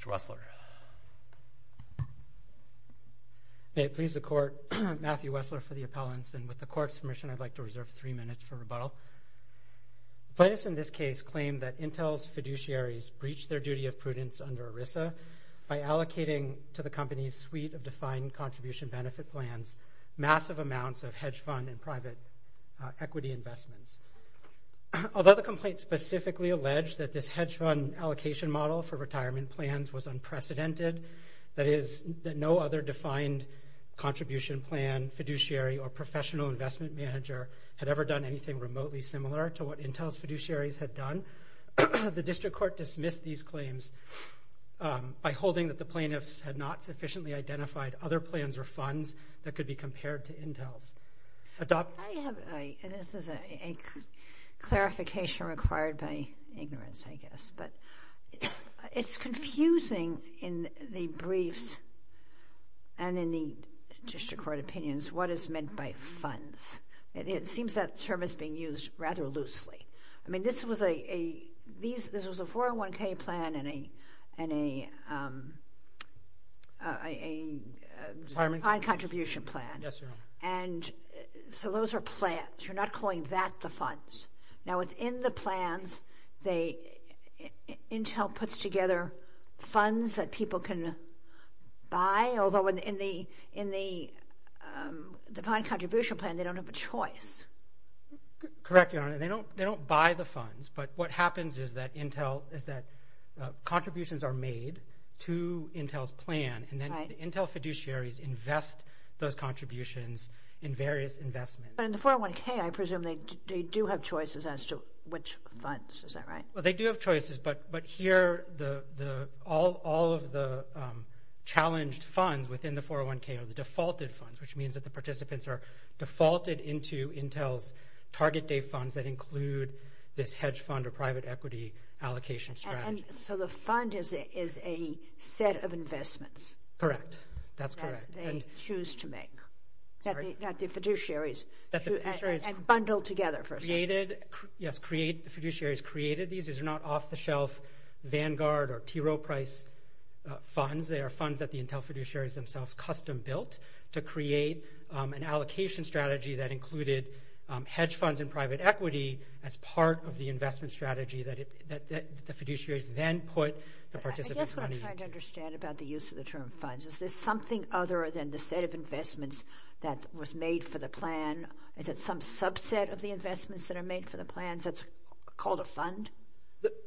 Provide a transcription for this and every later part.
Matthew Wessler May it please the Court, Matthew Wessler for the appellants, and with the Court's permission I'd like to reserve three minutes for rebuttal. The plaintiffs in this case claim that Intel's fiduciaries breached their duty of prudence under ERISA by allocating to the company's suite of defined contribution benefit plans massive amounts of hedge fund and private equity investments. Although the complaint specifically alleged that this hedge fund allocation model for hedge funds was unprecedented, that is, that no other defined contribution plan, fiduciary, or professional investment manager had ever done anything remotely similar to what Intel's fiduciaries had done, the District Court dismissed these claims by holding that the plaintiffs had not sufficiently identified other plans or funds that could be compared to Intel's. I have, and this is a clarification required by ignorance I guess, but it's confusing in the briefs and in the District Court opinions what is meant by funds. It seems that term is being used rather loosely. I mean this was a 401k plan and a defined contribution plan. And so those are plans. You're not calling that the funds. Now within the plans, Intel puts together funds that people can buy, although in the defined contribution plan they don't have a choice. Correct, Your Honor. They don't buy the funds, but what happens is that contributions are made to Intel's plan, and then Intel fiduciaries invest those contributions in various investments. But in the 401k, I presume they do have choices as to which funds. Is that right? Well, they do have choices, but here all of the challenged funds within the 401k are the defaulted funds, which means that the participants are defaulted into Intel's target date funds that include this hedge fund or private equity allocation strategy. And so the fund is a set of investments. Correct. That's correct. That they choose to make. That the fiduciaries bundle together. Yes, the fiduciaries created these. These are not off-the-shelf Vanguard or T. Rowe Price funds. They are funds that the Intel fiduciaries themselves custom-built to create an allocation strategy that included hedge funds and private equity as part of the investment strategy that the fiduciaries then put the participants' money in. I guess what I'm trying to understand about the use of the term funds, is there something other than the set of investments that was made for the plan? Is it some subset of the investments that are made for the plans that's called a fund?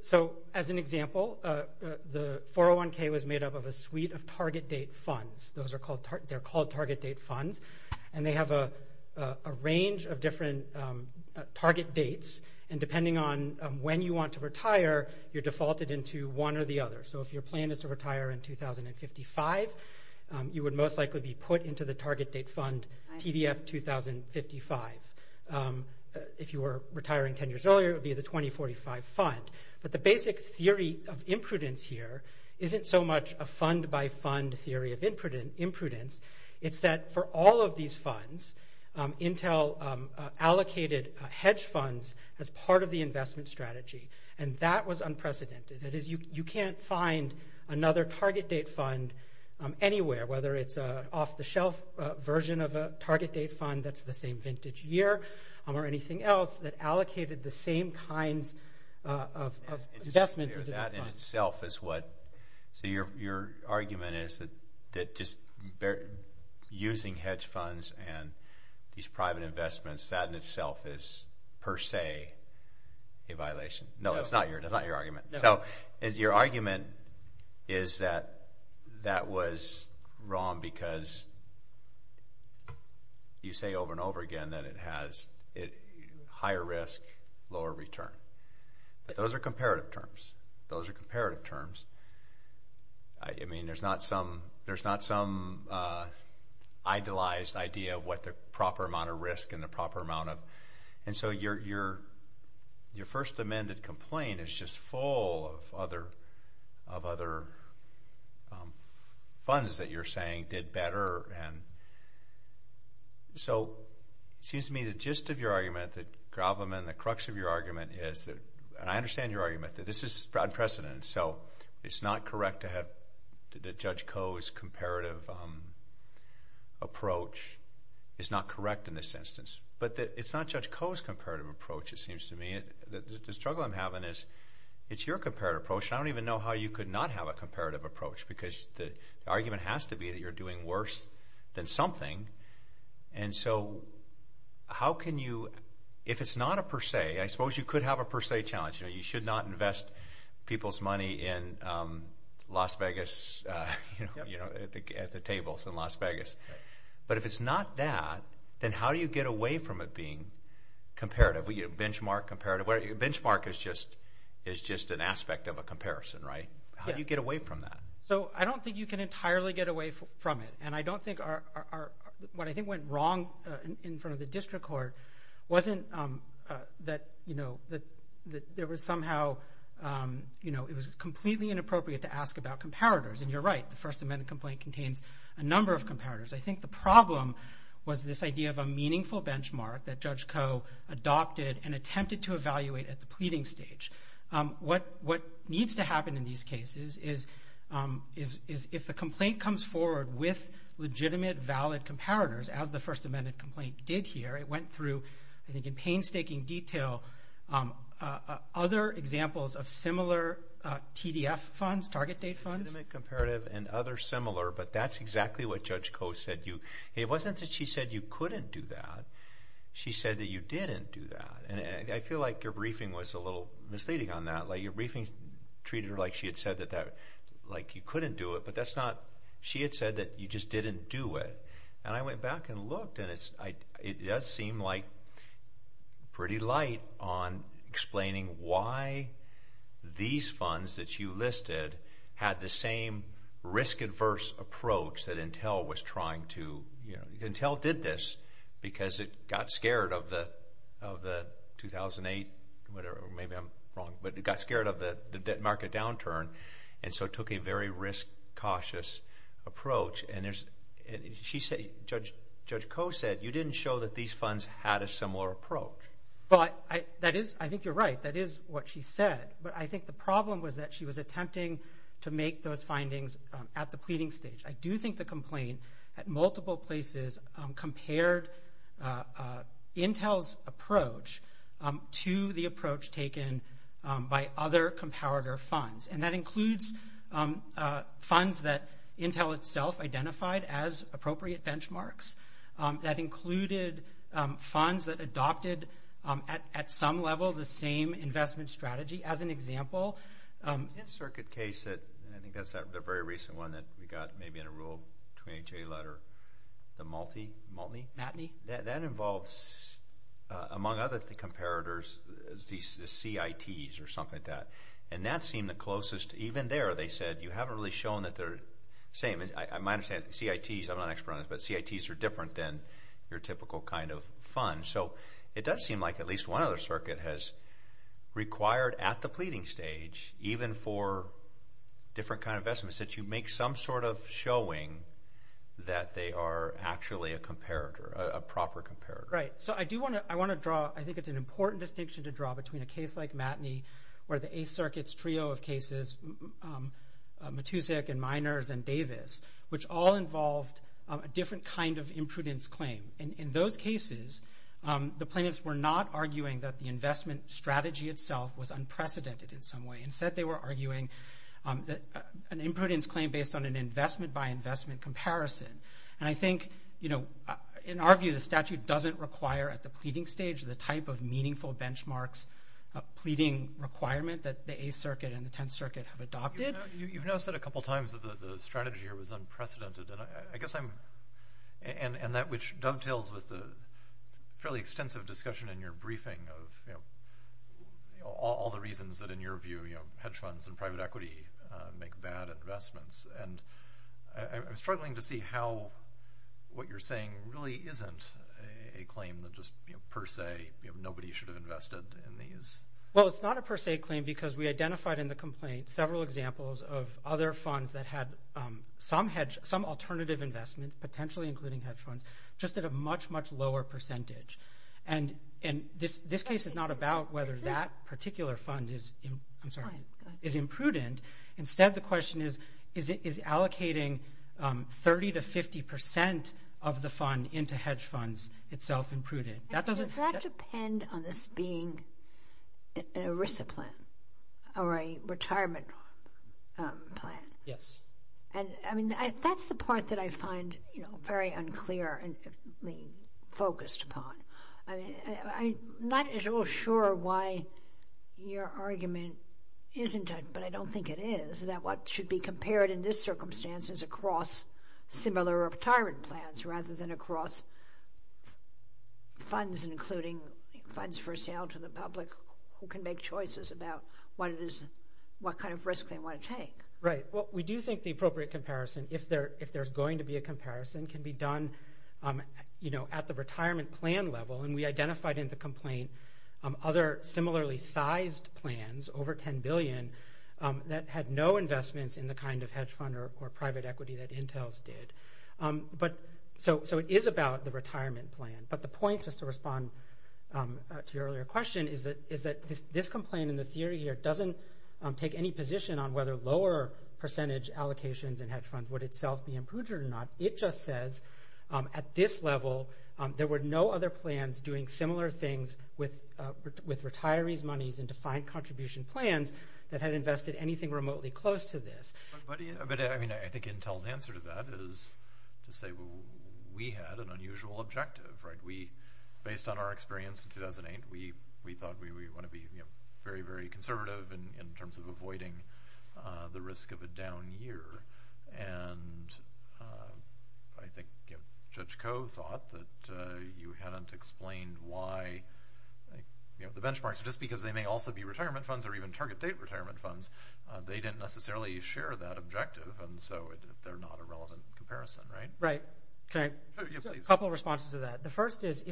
So as an example, the 401k was made up of a suite of target date funds. They're called target date funds, and they have a range of different target dates, and when you want to retire, you're defaulted into one or the other. So if your plan is to retire in 2055, you would most likely be put into the target date fund, TDF 2055. If you were retiring 10 years earlier, it would be the 2045 fund. But the basic theory of imprudence here isn't so much a fund-by-fund theory of imprudence. It's that for all of these funds, Intel allocated hedge funds as part of the investment strategy, and that was unprecedented. That is, you can't find another target date fund anywhere, whether it's an off-the-shelf version of a target date fund that's the same vintage year or anything else that allocated the same kinds of investments into the fund. So your argument is that just using hedge funds and these private investments, that in itself is per se a violation? No, that's not your argument. So your argument is that that was wrong because you say over and over again that it has higher risk, lower return. Those are comparative terms. Those are comparative terms. I mean, there's not some idealized idea of what the proper amount of risk and the proper amount of... And so your first amended complaint is just full of other funds that you're saying did better. So it seems to me the gist of your argument, that Gravelman, the crux of your argument is, and I understand your argument, that this is unprecedented. So it's not correct to have Judge Koh's comparative approach is not correct in this instance. But it's not Judge Koh's comparative approach, it seems to me. The struggle I'm having is it's your comparative approach, and I don't even know how you could not have a comparative approach because the argument has to be that you're doing worse than something. And so how can you... If it's not a per se, I suppose you could have a per se challenge. You should not invest people's money in Las Vegas, at the tables in Las Vegas. But if it's not that, then how do you get away from it being comparative? Benchmark, comparative. Benchmark is just an aspect of a comparison, right? How do you get away from that? So I don't think you can entirely get away from it. And I don't think our... What I think went wrong in front of the district court wasn't that there was somehow... It was completely inappropriate to ask about comparators. And you're right, the First Amendment complaint contains a number of comparators. I think the problem was this idea of a meaningful benchmark that Judge Koh adopted and attempted to evaluate at the pleading stage. What needs to happen in these cases is if the complaint comes forward with legitimate, valid comparators, as the First Amendment complaint did here, it went through, I think in painstaking detail, other examples of similar TDF funds, target date funds. Legitimate, comparative, and other similar. But that's exactly what Judge Koh said. It wasn't that she said you couldn't do that. She said that you didn't do that. And I feel like your briefing was a little misleading on that. Your briefing treated her like she had said that you couldn't do it, but that's not... She had said that you just didn't do it. And I went back and looked, and it does seem pretty light on explaining why these funds that you listed had the same risk-adverse approach that Intel was trying to... 2008, whatever, maybe I'm wrong, but got scared of the debt market downturn and so took a very risk-cautious approach. Judge Koh said you didn't show that these funds had a similar approach. I think you're right. That is what she said. But I think the problem was that she was attempting to make those findings at the pleading stage. I do think the complaint at multiple places compared Intel's approach to the approach taken by other competitor funds. And that includes funds that Intel itself identified as appropriate benchmarks. That included funds that adopted, at some level, the same investment strategy. As an example... The N circuit case, and I think that's a very recent one that we got maybe in a rule between a letter, the Maltney? Matney. That involves, among other comparators, the CITs or something like that. And that seemed the closest. Even there, they said you haven't really shown that they're the same. I might have said CITs. I'm not an expert on this, but CITs are different than your typical kind of fund. So it does seem like at least one other circuit has required at the pleading stage, even for different kind of investments, that you make some sort of showing that they are actually a comparator, a proper comparator. Right. So I do want to draw, I think it's an important distinction to draw, between a case like Matney where the 8th Circuit's trio of cases, Matusik and Miners and Davis, which all involved a different kind of imprudence claim. In those cases, the plaintiffs were not arguing that the investment strategy itself was unprecedented in some way. Instead, they were arguing an imprudence claim based on an investment-by-investment comparison. And I think, in our view, the statute doesn't require at the pleading stage the type of meaningful benchmarks, pleading requirement, that the 8th Circuit and the 10th Circuit have adopted. You've now said a couple times that the strategy here was unprecedented. And I guess I'm, and that which dovetails with the fairly extensive discussion in your briefing of all the reasons that, in your view, hedge funds and private equity make bad investments. And I'm struggling to see how what you're saying really isn't a claim that just per se, nobody should have invested in these. Well, it's not a per se claim because we identified in the complaint several examples of other funds that had some alternative investments, potentially including hedge funds, just at a much, much lower percentage. And this case is not about whether that particular fund is imprudent. Instead, the question is, is allocating 30 to 50 percent of the fund into hedge funds itself imprudent? Does that depend on this being an ERISA plan or a retirement plan? Yes. That's the part that I find very unclear and focused upon. I'm not at all sure why your argument isn't, but I don't think it is, that what should be compared in this circumstance is across similar retirement plans rather than across funds, including funds for sale to the public, who can make choices about what kind of risk they want to take. Right. Well, we do think the appropriate comparison, if there's going to be a comparison, can be done at the retirement plan level. And we identified in the complaint other similarly sized plans, over $10 billion, that had no investments in the kind of hedge fund or private equity that Intel's did. So it is about the retirement plan. But the point, just to respond to your earlier question, is that this complaint in the theory here doesn't take any position on whether lower percentage allocations in hedge funds would itself be improved or not. It just says at this level there were no other plans doing similar things with retirees' monies and defined contribution plans that had invested anything remotely close to this. But, I mean, I think Intel's answer to that is to say we had an unusual objective, right? Based on our experience in 2008, we thought we wanted to be very, very conservative in terms of avoiding the risk of a down year. And I think Judge Koh thought that you hadn't explained why the benchmarks, just because they may also be retirement funds or even target date retirement funds, they didn't necessarily share that objective. And so they're not a relevant comparison, right? Right. A couple of responses to that. The first is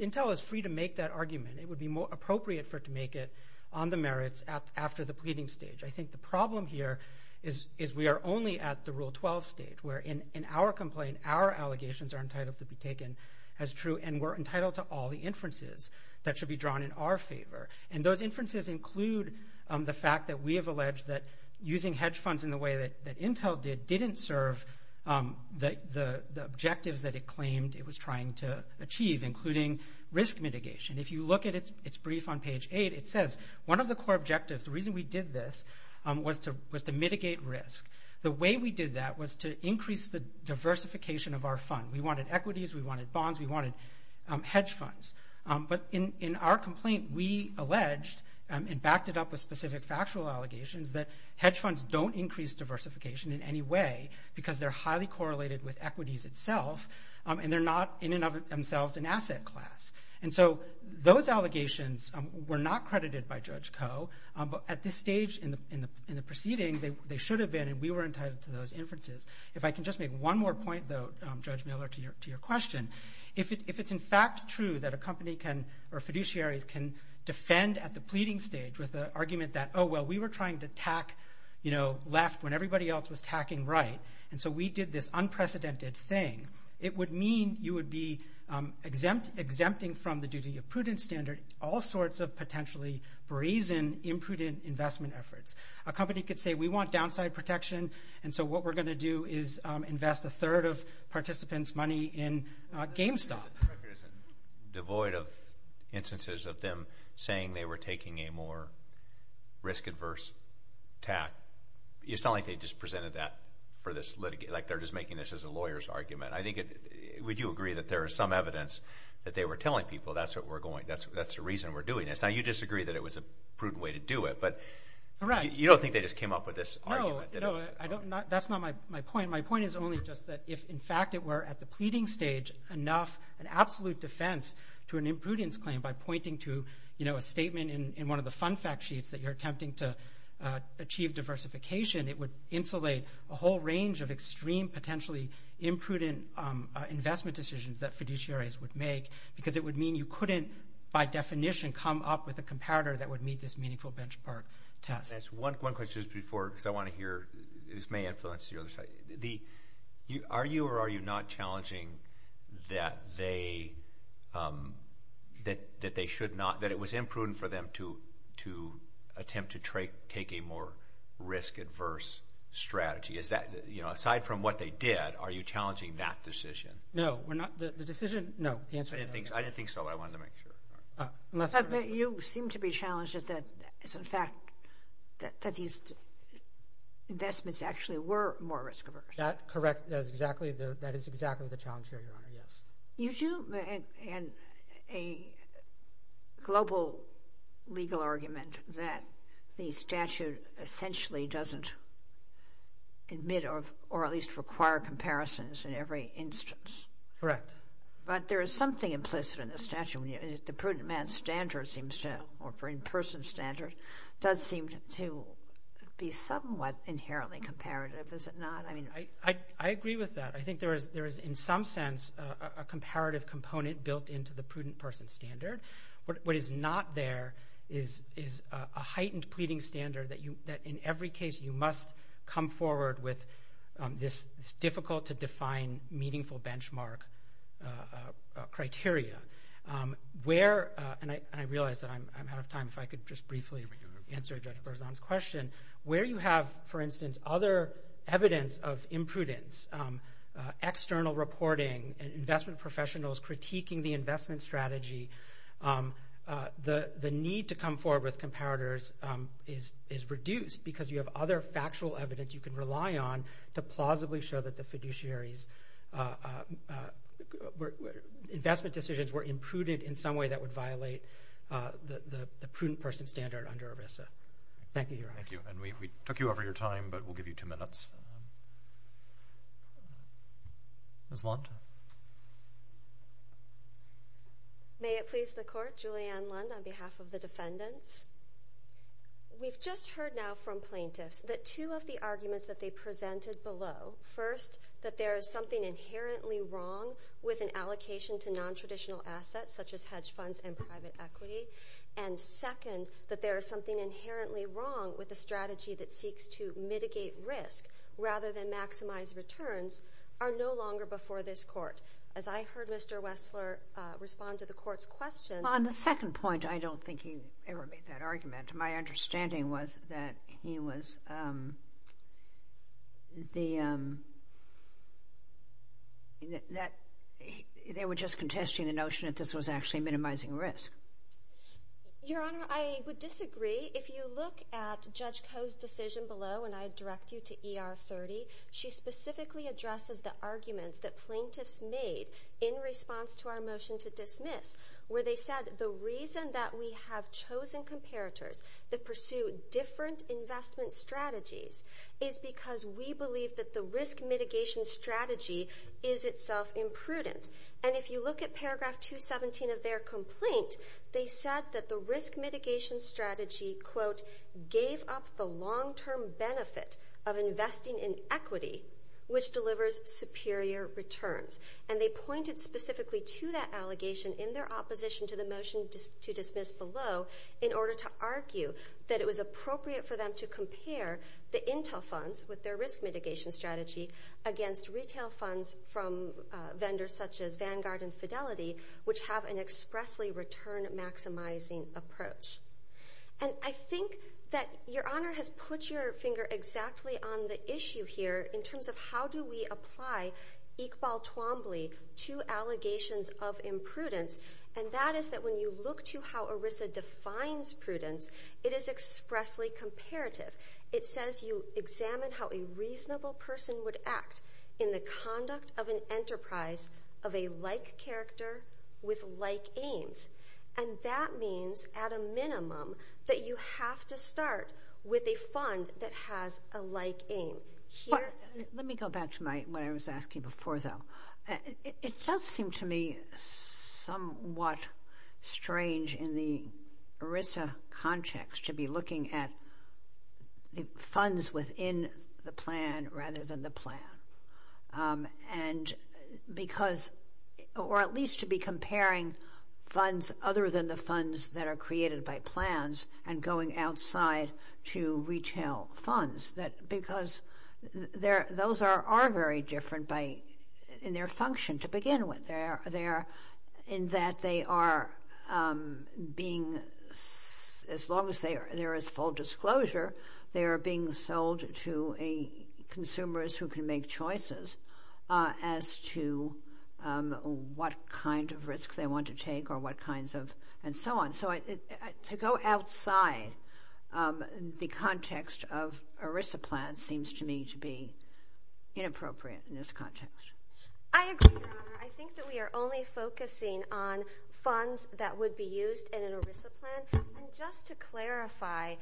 Intel is free to make that argument. It would be more appropriate for it to make it on the merits after the pleading stage. I think the problem here is we are only at the Rule 12 stage, where in our complaint our allegations are entitled to be taken as true and we're entitled to all the inferences that should be drawn in our favor. And those inferences include the fact that we have alleged that using hedge funds in the way that Intel did didn't serve the objectives that it claimed it was trying to achieve, including risk mitigation. If you look at its brief on page 8, it says one of the core objectives, the reason we did this, was to mitigate risk. The way we did that was to increase the diversification of our fund. We wanted equities. We wanted bonds. We wanted hedge funds. But in our complaint, we alleged and backed it up with specific factual allegations that hedge funds don't increase diversification in any way because they're highly correlated with equities itself and they're not in and of themselves an asset class. And so those allegations were not credited by Judge Koh. But at this stage in the proceeding, they should have been, and we were entitled to those inferences. If I can just make one more point, though, Judge Miller, to your question, if it's in fact true that a company or fiduciaries can defend at the pleading stage with the argument that, oh, well, we were trying to tack left when everybody else was tacking right, and so we did this unprecedented thing, it would mean you would be exempting from the duty of prudent standard all sorts of potentially brazen, imprudent investment efforts. A company could say we want downside protection, and so what we're going to do is invest a third of participants' money in GameStop. It's devoid of instances of them saying they were taking a more risk-adverse tack. It's not like they just presented that for this litigation. Like they're just making this as a lawyer's argument. I think would you agree that there is some evidence that they were telling people that's the reason we're doing this? Now, you disagree that it was a prudent way to do it, but you don't think they just came up with this argument? No, that's not my point. My point is only just that if, in fact, it were at the pleading stage enough, an absolute defense to an imprudence claim by pointing to, you know, a statement in one of the fun fact sheets that you're attempting to achieve diversification, it would insulate a whole range of extreme potentially imprudent investment decisions that fiduciaries would make because it would mean you couldn't, by definition, come up with a comparator that would meet this meaningful benchmark test. One question before, because I want to hear, this may influence the other side. Are you or are you not challenging that they should not, that it was imprudent for them to attempt to take a more risk-adverse strategy? Is that, you know, aside from what they did, are you challenging that decision? No, we're not. The decision, no. I didn't think so, but I wanted to make sure. You seem to be challenging that, in fact, that these investments actually were more risk-adverse. That's correct. That is exactly the challenge here, Your Honor, yes. You do, and a global legal argument that the statute essentially doesn't admit or at least require comparisons in every instance. Correct. But there is something implicit in the statute. The prudent man standard seems to, or for in-person standard, does seem to be somewhat inherently comparative, is it not? I agree with that. I think there is, in some sense, a comparative component built into the prudent person standard. What is not there is a heightened pleading standard that, in every case, you must come forward with this difficult-to-define, meaningful benchmark criteria. And I realize that I'm out of time. If I could just briefly answer Judge Berzon's question. Where you have, for instance, other evidence of imprudence, external reporting, investment professionals critiquing the investment strategy, the need to come forward with comparators is reduced because you have other factual evidence you can rely on to plausibly show that the fiduciary's investment decisions were imprudent in some way that would violate the prudent person standard under ERISA. Thank you, Your Honor. Thank you. And we took you over your time, but we'll give you two minutes. Ms. Lund? May it please the Court? Julianne Lund on behalf of the defendants. We've just heard now from plaintiffs that two of the arguments that they presented below, first, that there is something inherently wrong with an allocation to nontraditional assets, such as hedge funds and private equity, and second, that there is something inherently wrong with a strategy that seeks to mitigate risk rather than maximize returns, are no longer before this Court. As I heard Mr. Wessler respond to the Court's question— On the second point, I don't think he ever made that argument. My understanding was that he was— that they were just contesting the notion that this was actually minimizing risk. Your Honor, I would disagree. If you look at Judge Koh's decision below, and I direct you to ER 30, she specifically addresses the arguments that plaintiffs made in response to our motion to dismiss, where they said the reason that we have chosen comparators that pursue different investment strategies is because we believe that the risk mitigation strategy is itself imprudent. And if you look at paragraph 217 of their complaint, they said that the risk mitigation strategy, quote, gave up the long-term benefit of investing in equity, which delivers superior returns. And they pointed specifically to that allegation in their opposition to the motion to dismiss below in order to argue that it was appropriate for them to compare the Intel funds with their risk mitigation strategy against retail funds from vendors such as Vanguard and Fidelity, which have an expressly return-maximizing approach. And I think that Your Honor has put your finger exactly on the issue here in terms of how do we apply Iqbal Twombly to allegations of imprudence, and that is that when you look to how ERISA defines prudence, it is expressly comparative. It says you examine how a reasonable person would act in the conduct of an enterprise of a like character with like aims. And that means at a minimum that you have to start with a fund that has a like aim. Let me go back to what I was asking before, though. It does seem to me somewhat strange in the ERISA context to be looking at funds within the plan rather than the plan. Or at least to be comparing funds other than the funds that are created by plans and going outside to retail funds. Because those are very different in their function to begin with, in that they are being, as long as there is full disclosure, they are being sold to consumers who can make choices as to what kind of risks they want to take or what kinds of, and so on. So to go outside the context of ERISA plans seems to me to be inappropriate in this context. I agree, Your Honor. I think that we are only focusing on funds that would be used in an ERISA plan. Just to clarify,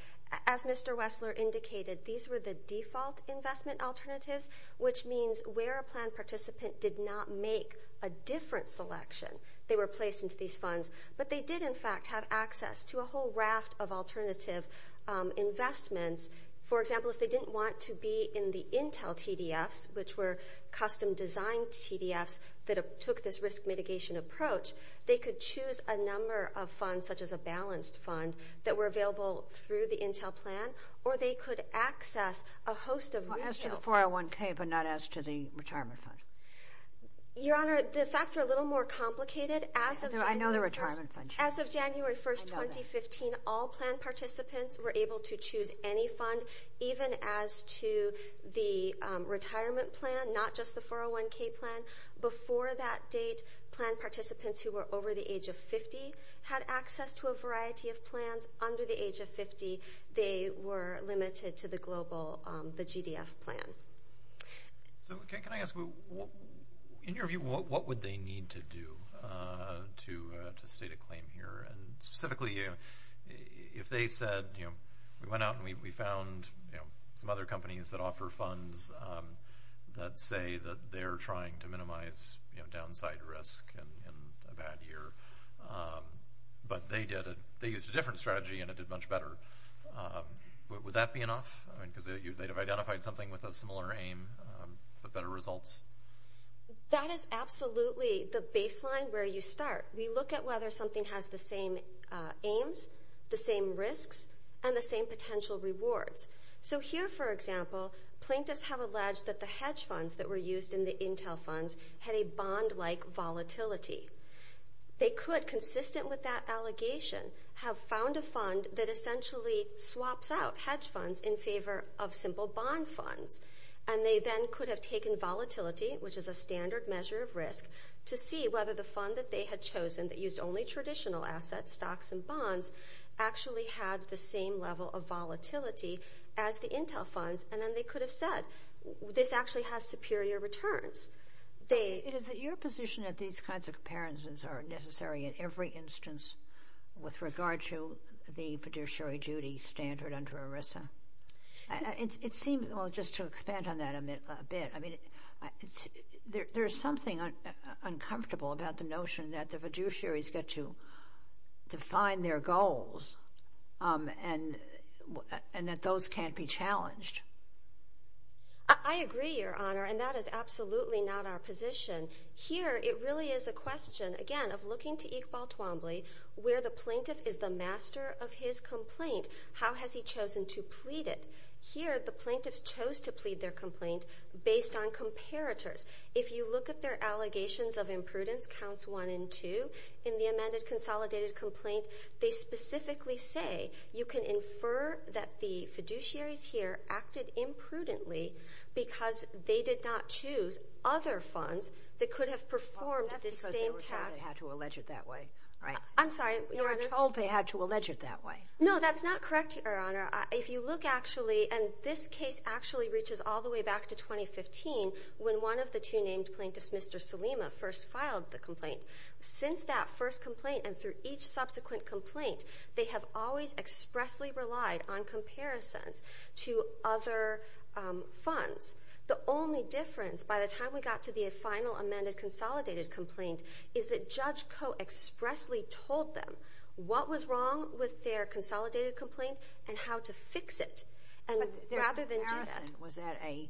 as Mr. Wessler indicated, these were the default investment alternatives, which means where a plan participant did not make a different selection, they were placed into these funds. But they did, in fact, have access to a whole raft of alternative investments. For example, if they didn't want to be in the Intel TDFs, which were custom-designed TDFs that took this risk mitigation approach, they could choose a number of funds, such as a balanced fund, that were available through the Intel plan, or they could access a host of retail funds. Well, as to the 401K, but not as to the retirement fund. Your Honor, the facts are a little more complicated. I know the retirement fund. As of January 1, 2015, all plan participants were able to choose any fund, even as to the retirement plan, not just the 401K plan. Before that date, plan participants who were over the age of 50 had access to a variety of plans. Under the age of 50, they were limited to the global, the GDF plan. Can I ask, in your view, what would they need to do to state a claim here? And specifically, if they said, you know, we went out and we found some other companies that offer funds that say that they're trying to minimize, you know, downside risk in a bad year. But they did it. They used a different strategy, and it did much better. Would that be enough? I mean, because they'd have identified something with a similar aim, but better results? That is absolutely the baseline where you start. We look at whether something has the same aims, the same risks, and the same potential rewards. So here, for example, plaintiffs have alleged that the hedge funds that were used in the Intel funds had a bond-like volatility. They could, consistent with that allegation, have found a fund that essentially swaps out hedge funds in favor of simple bond funds. And they then could have taken volatility, which is a standard measure of risk, to see whether the fund that they had chosen that used only traditional assets, stocks and bonds, actually had the same level of volatility as the Intel funds. And then they could have said, this actually has superior returns. Is it your position that these kinds of comparisons are necessary in every instance with regard to the fiduciary duty standard under ERISA? It seems, well, just to expand on that a bit, I mean, there's something uncomfortable about the notion that the fiduciaries get to define their goals and that those can't be challenged. I agree, Your Honor, and that is absolutely not our position. Here, it really is a question, again, of looking to Iqbal Twombly, where the plaintiff is the master of his complaint. How has he chosen to plead it? Here, the plaintiffs chose to plead their complaint based on comparators. If you look at their allegations of imprudence, counts one and two, in the amended consolidated complaint, they specifically say you can infer that the fiduciaries here acted imprudently because they did not choose other funds that could have performed the same task. Well, that's because they were told they had to allege it that way, right? I'm sorry, Your Honor? They were told they had to allege it that way. No, that's not correct, Your Honor. If you look actually, and this case actually reaches all the way back to 2015, when one of the two named plaintiffs, Mr. Salema, first filed the complaint. Since that first complaint and through each subsequent complaint, they have always expressly relied on comparisons to other funds. The only difference, by the time we got to the final amended consolidated complaint, is that Judge Koh expressly told them what was wrong with their consolidated complaint and how to fix it rather than do that. But their comparison was at a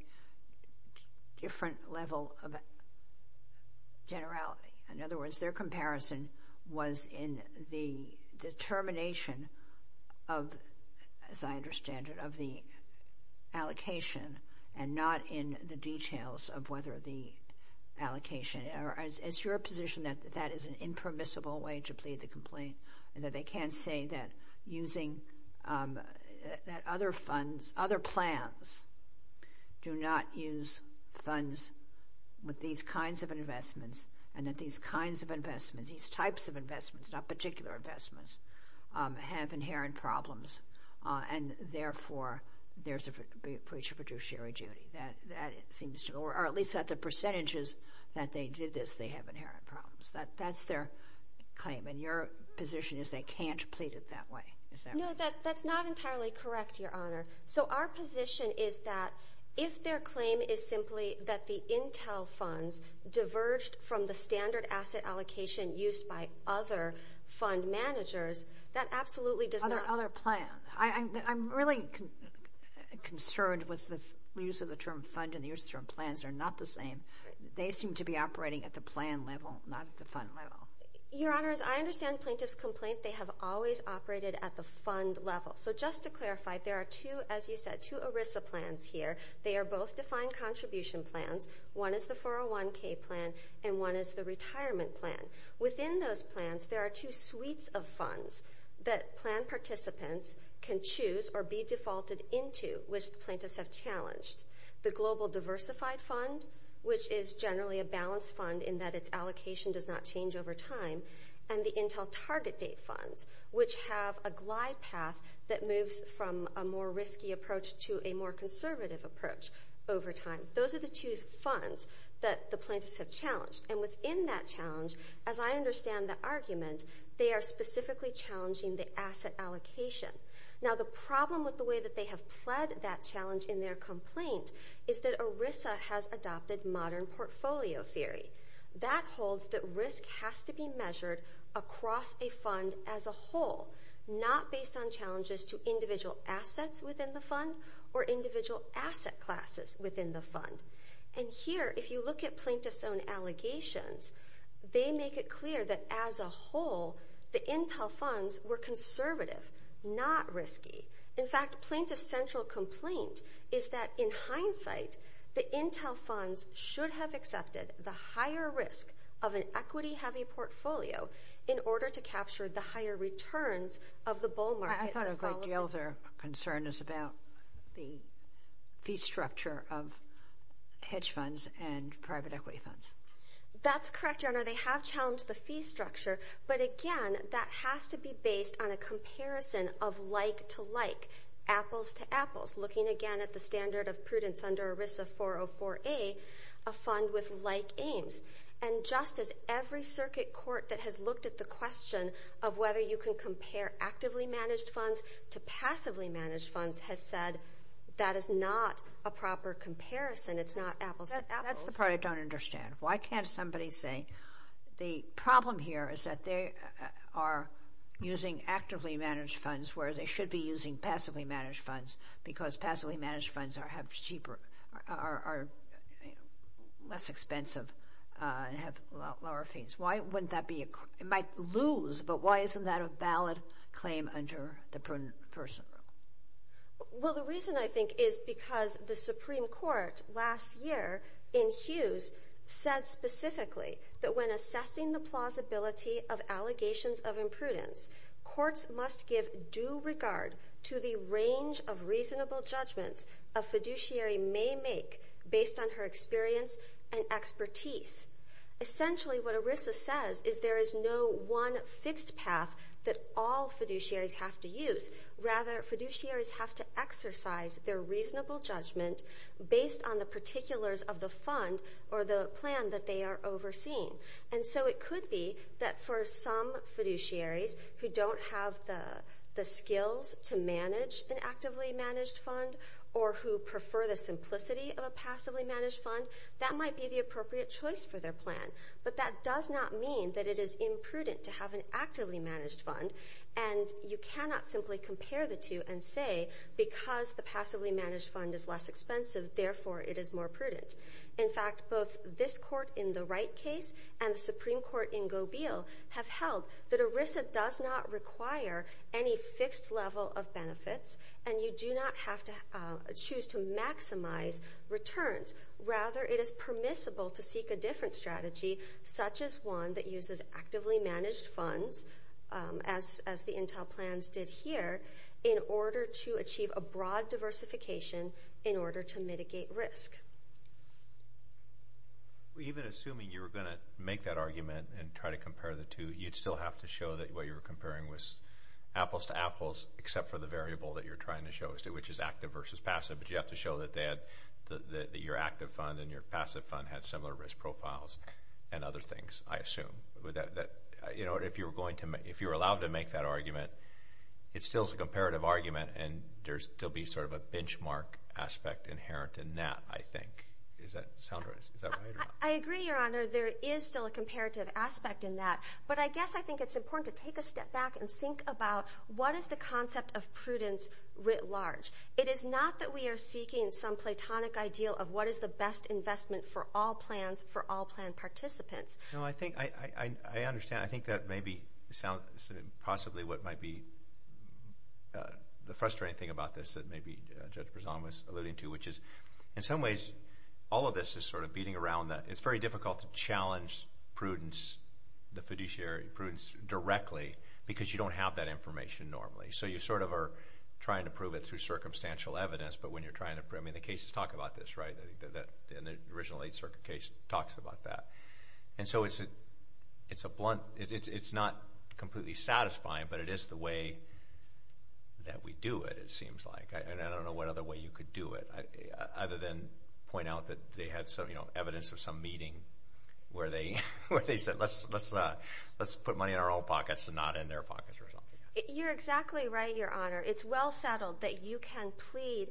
different level of generality. In other words, their comparison was in the determination of, as I understand it, of the allocation and not in the details of whether the allocation. It's your position that that is an impermissible way to plead the complaint and that they can't say that other plans do not use funds with these kinds of investments and that these kinds of investments, these types of investments, not particular investments, have inherent problems. And therefore, there's a breach of fiduciary duty. Or at least at the percentages that they did this, they have inherent problems. That's their claim. And your position is they can't plead it that way. No, that's not entirely correct, Your Honor. So our position is that if their claim is simply that the Intel funds diverged from the standard asset allocation used by other fund managers, that absolutely does not— Other plans. I'm really concerned with the use of the term fund and the use of the term plans. They're not the same. They seem to be operating at the plan level, not at the fund level. Your Honor, as I understand Plaintiff's complaint, they have always operated at the fund level. So just to clarify, there are two, as you said, two ERISA plans here. They are both defined contribution plans. One is the 401k plan and one is the retirement plan. Within those plans, there are two suites of funds that plan participants can choose or be defaulted into, which the plaintiffs have challenged. The global diversified fund, which is generally a balanced fund in that its allocation does not change over time, and the Intel target date funds, which have a glide path that moves from a more risky approach to a more conservative approach over time. Those are the two funds that the plaintiffs have challenged. And within that challenge, as I understand the argument, they are specifically challenging the asset allocation. Now, the problem with the way that they have pled that challenge in their complaint is that ERISA has adopted modern portfolio theory. That holds that risk has to be measured across a fund as a whole, not based on challenges to individual assets within the fund or individual asset classes within the fund. And here, if you look at plaintiffs' own allegations, they make it clear that, as a whole, the Intel funds were conservative, not risky. In fact, plaintiff's central complaint is that, in hindsight, the Intel funds should have accepted the higher risk of an equity-heavy portfolio in order to capture the higher returns of the bull market. I thought a great deal of their concern is about the fee structure of hedge funds and private equity funds. That's correct, Your Honor. They have challenged the fee structure, but, again, that has to be based on a comparison of like to like, apples to apples, looking, again, at the standard of prudence under ERISA 404A, a fund with like aims. And just as every circuit court that has looked at the question of whether you can compare actively managed funds to passively managed funds has said that is not a proper comparison. It's not apples to apples. That's the part I don't understand. Why can't somebody say the problem here is that they are using actively managed funds, whereas they should be using passively managed funds, because passively managed funds are cheaper, are less expensive, and have lower fees? Why wouldn't that be a – it might lose, but why isn't that a valid claim under the prudent person law? Well, the reason, I think, is because the Supreme Court last year in Hughes said specifically that when assessing the plausibility of allegations of imprudence, courts must give due regard to the range of reasonable judgments a fiduciary may make based on her experience and expertise. Essentially, what ERISA says is there is no one fixed path that all fiduciaries have to use. Rather, fiduciaries have to exercise their reasonable judgment based on the particulars of the fund or the plan that they are overseeing. And so it could be that for some fiduciaries who don't have the skills to manage an actively managed fund or who prefer the simplicity of a passively managed fund, that might be the appropriate choice for their plan. But that does not mean that it is imprudent to have an actively managed fund, and you cannot simply compare the two and say because the passively managed fund is less expensive, therefore it is more prudent. In fact, both this court in the Wright case and the Supreme Court in Gobeil have held that ERISA does not require any fixed level of benefits, and you do not have to choose to maximize returns. Rather, it is permissible to seek a different strategy, such as one that uses actively managed funds, as the Intel plans did here, in order to achieve a broad diversification in order to mitigate risk. Even assuming you were going to make that argument and try to compare the two, you would still have to show that what you were comparing was apples to apples, except for the variable that you are trying to show, which is active versus passive. But you have to show that your active fund and your passive fund had similar risk profiles and other things, I assume. If you were allowed to make that argument, it still is a comparative argument, and there would still be sort of a benchmark aspect inherent in that, I think. Is that sound right? I agree, Your Honor. There is still a comparative aspect in that, but I guess I think it's important to take a step back and think about what is the concept of prudence writ large. It is not that we are seeking some platonic ideal of what is the best investment for all plans for all plan participants. No, I think I understand. I think that may be possibly what might be the frustrating thing about this that maybe Judge Prezant was alluding to, which is, in some ways, all of this is sort of beating around the – it is very difficult to challenge prudence, the fiduciary prudence directly, because you don't have that information normally. So you sort of are trying to prove it through circumstantial evidence, but when you are trying to – I mean, the cases talk about this, right? The original Eighth Circuit case talks about that. And so it is a blunt – it is not completely satisfying, but it is the way that we do it, it seems like. And I don't know what other way you could do it other than point out that they had some evidence of some meeting where they said let's put money in our own pockets and not in their pockets or something. You're exactly right, Your Honor. It's well settled that you can plead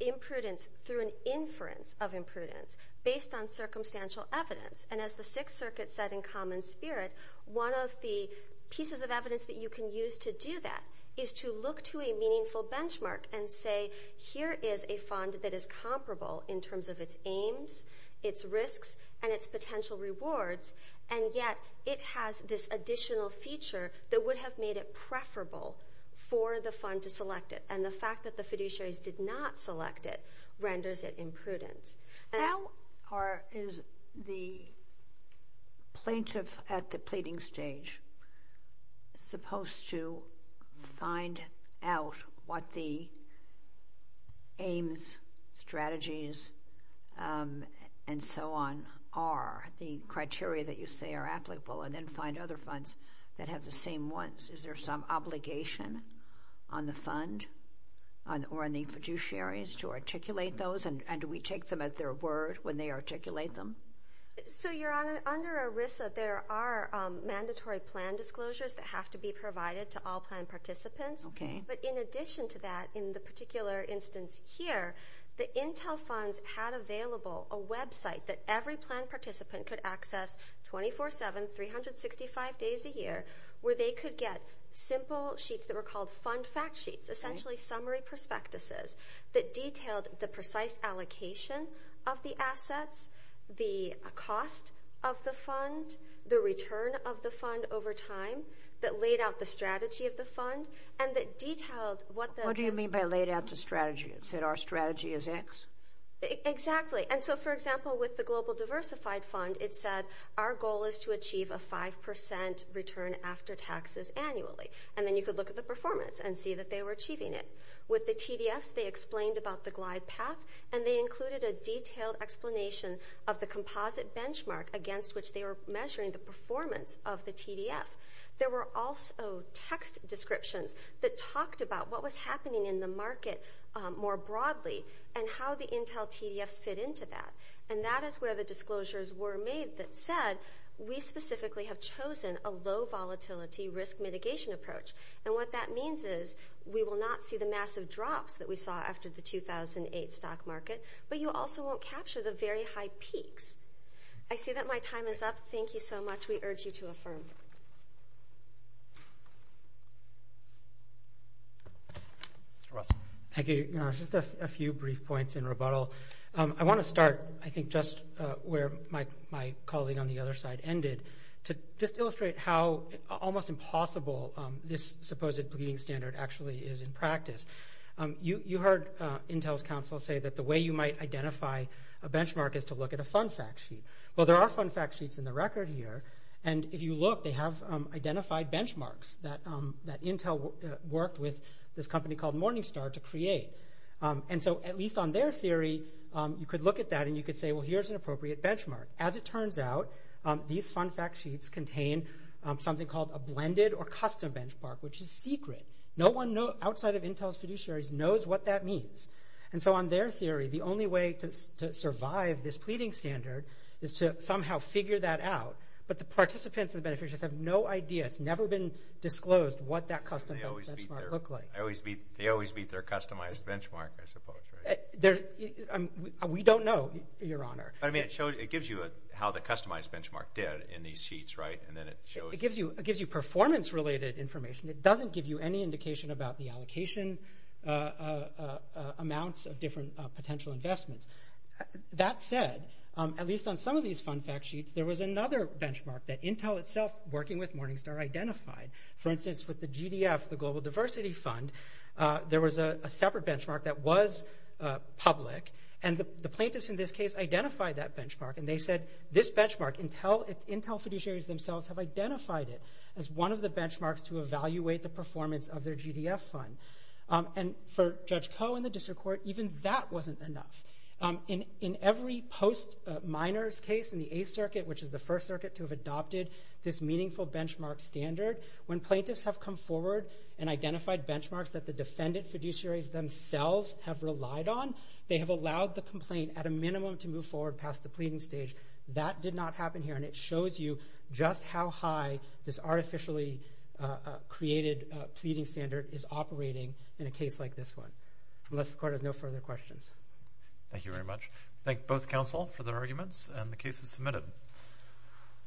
imprudence through an inference of imprudence based on circumstantial evidence. And as the Sixth Circuit said in Common Spirit, one of the pieces of evidence that you can use to do that is to look to a meaningful benchmark and say here is a fund that is comparable in terms of its aims, its risks, and its potential rewards, and yet it has this additional feature that would have made it preferable for the fund to select it. And the fact that the fiduciaries did not select it renders it imprudent. How is the plaintiff at the pleading stage supposed to find out what the aims, strategies, and so on are, the criteria that you say are applicable, and then find other funds that have the same ones? Is there some obligation on the fund or on the fiduciaries to articulate those? And do we take them at their word when they articulate them? So, Your Honor, under ERISA there are mandatory plan disclosures that have to be provided to all plan participants. Okay. But in addition to that, in the particular instance here, the intel funds had available a website that every plan participant could access 24-7, 365 days a year, where they could get simple sheets that were called fund fact sheets, essentially summary prospectuses that detailed the precise allocation of the assets, the cost of the fund, the return of the fund over time, that laid out the strategy of the fund, and that detailed what the- What do you mean by laid out the strategy? It said our strategy is X? Exactly. And so, for example, with the Global Diversified Fund, it said our goal is to achieve a 5% return after taxes annually. And then you could look at the performance and see that they were achieving it. With the TDFs, they explained about the glide path, and they included a detailed explanation of the composite benchmark against which they were measuring the performance of the TDF. There were also text descriptions that talked about what was happening in the market more broadly and how the intel TDFs fit into that. And that is where the disclosures were made that said, we specifically have chosen a low volatility risk mitigation approach. And what that means is we will not see the massive drops that we saw after the 2008 stock market, but you also won't capture the very high peaks. I see that my time is up. Thank you so much. We urge you to affirm. Mr. Russell. Thank you. Just a few brief points in rebuttal. I want to start, I think, just where my colleague on the other side ended, to just illustrate how almost impossible this supposed bleeding standard actually is in practice. You heard Intel's counsel say that the way you might identify a benchmark is to look at a fun fact sheet. Well, there are fun fact sheets in the record here. And if you look, they have identified benchmarks that Intel worked with this company called Morningstar to create. And so at least on their theory, you could look at that and you could say, well, here's an appropriate benchmark. As it turns out, these fun fact sheets contain something called a blended or custom benchmark, which is secret. No one outside of Intel's fiduciaries knows what that means. And so on their theory, the only way to survive this pleading standard is to somehow figure that out. But the participants and the beneficiaries have no idea. It's never been disclosed what that custom benchmark looked like. They always meet their customized benchmark, I suppose, right? We don't know, Your Honor. But, I mean, it gives you how the customized benchmark did in these sheets, right? And then it shows. It gives you performance-related information. It doesn't give you any indication about the allocation amounts of different potential investments. That said, at least on some of these fun fact sheets, there was another benchmark that Intel itself, working with Morningstar, identified. For instance, with the GDF, the Global Diversity Fund, there was a separate benchmark that was public. And the plaintiffs in this case identified that benchmark. And they said, this benchmark, Intel fiduciaries themselves have identified it as one of the benchmarks to evaluate the performance of their GDF fund. And for Judge Koh and the district court, even that wasn't enough. In every post-minors case in the Eighth Circuit, which is the first circuit to have adopted this meaningful benchmark standard, when plaintiffs have come forward and identified benchmarks that the defendant fiduciaries themselves have relied on, they have allowed the complaint, at a minimum, to move forward past the pleading stage. That did not happen here. And it shows you just how high this artificially created pleading standard is operating in a case like this one. Unless the court has no further questions. Thank you very much. Thank both counsel for their arguments, and the case is submitted.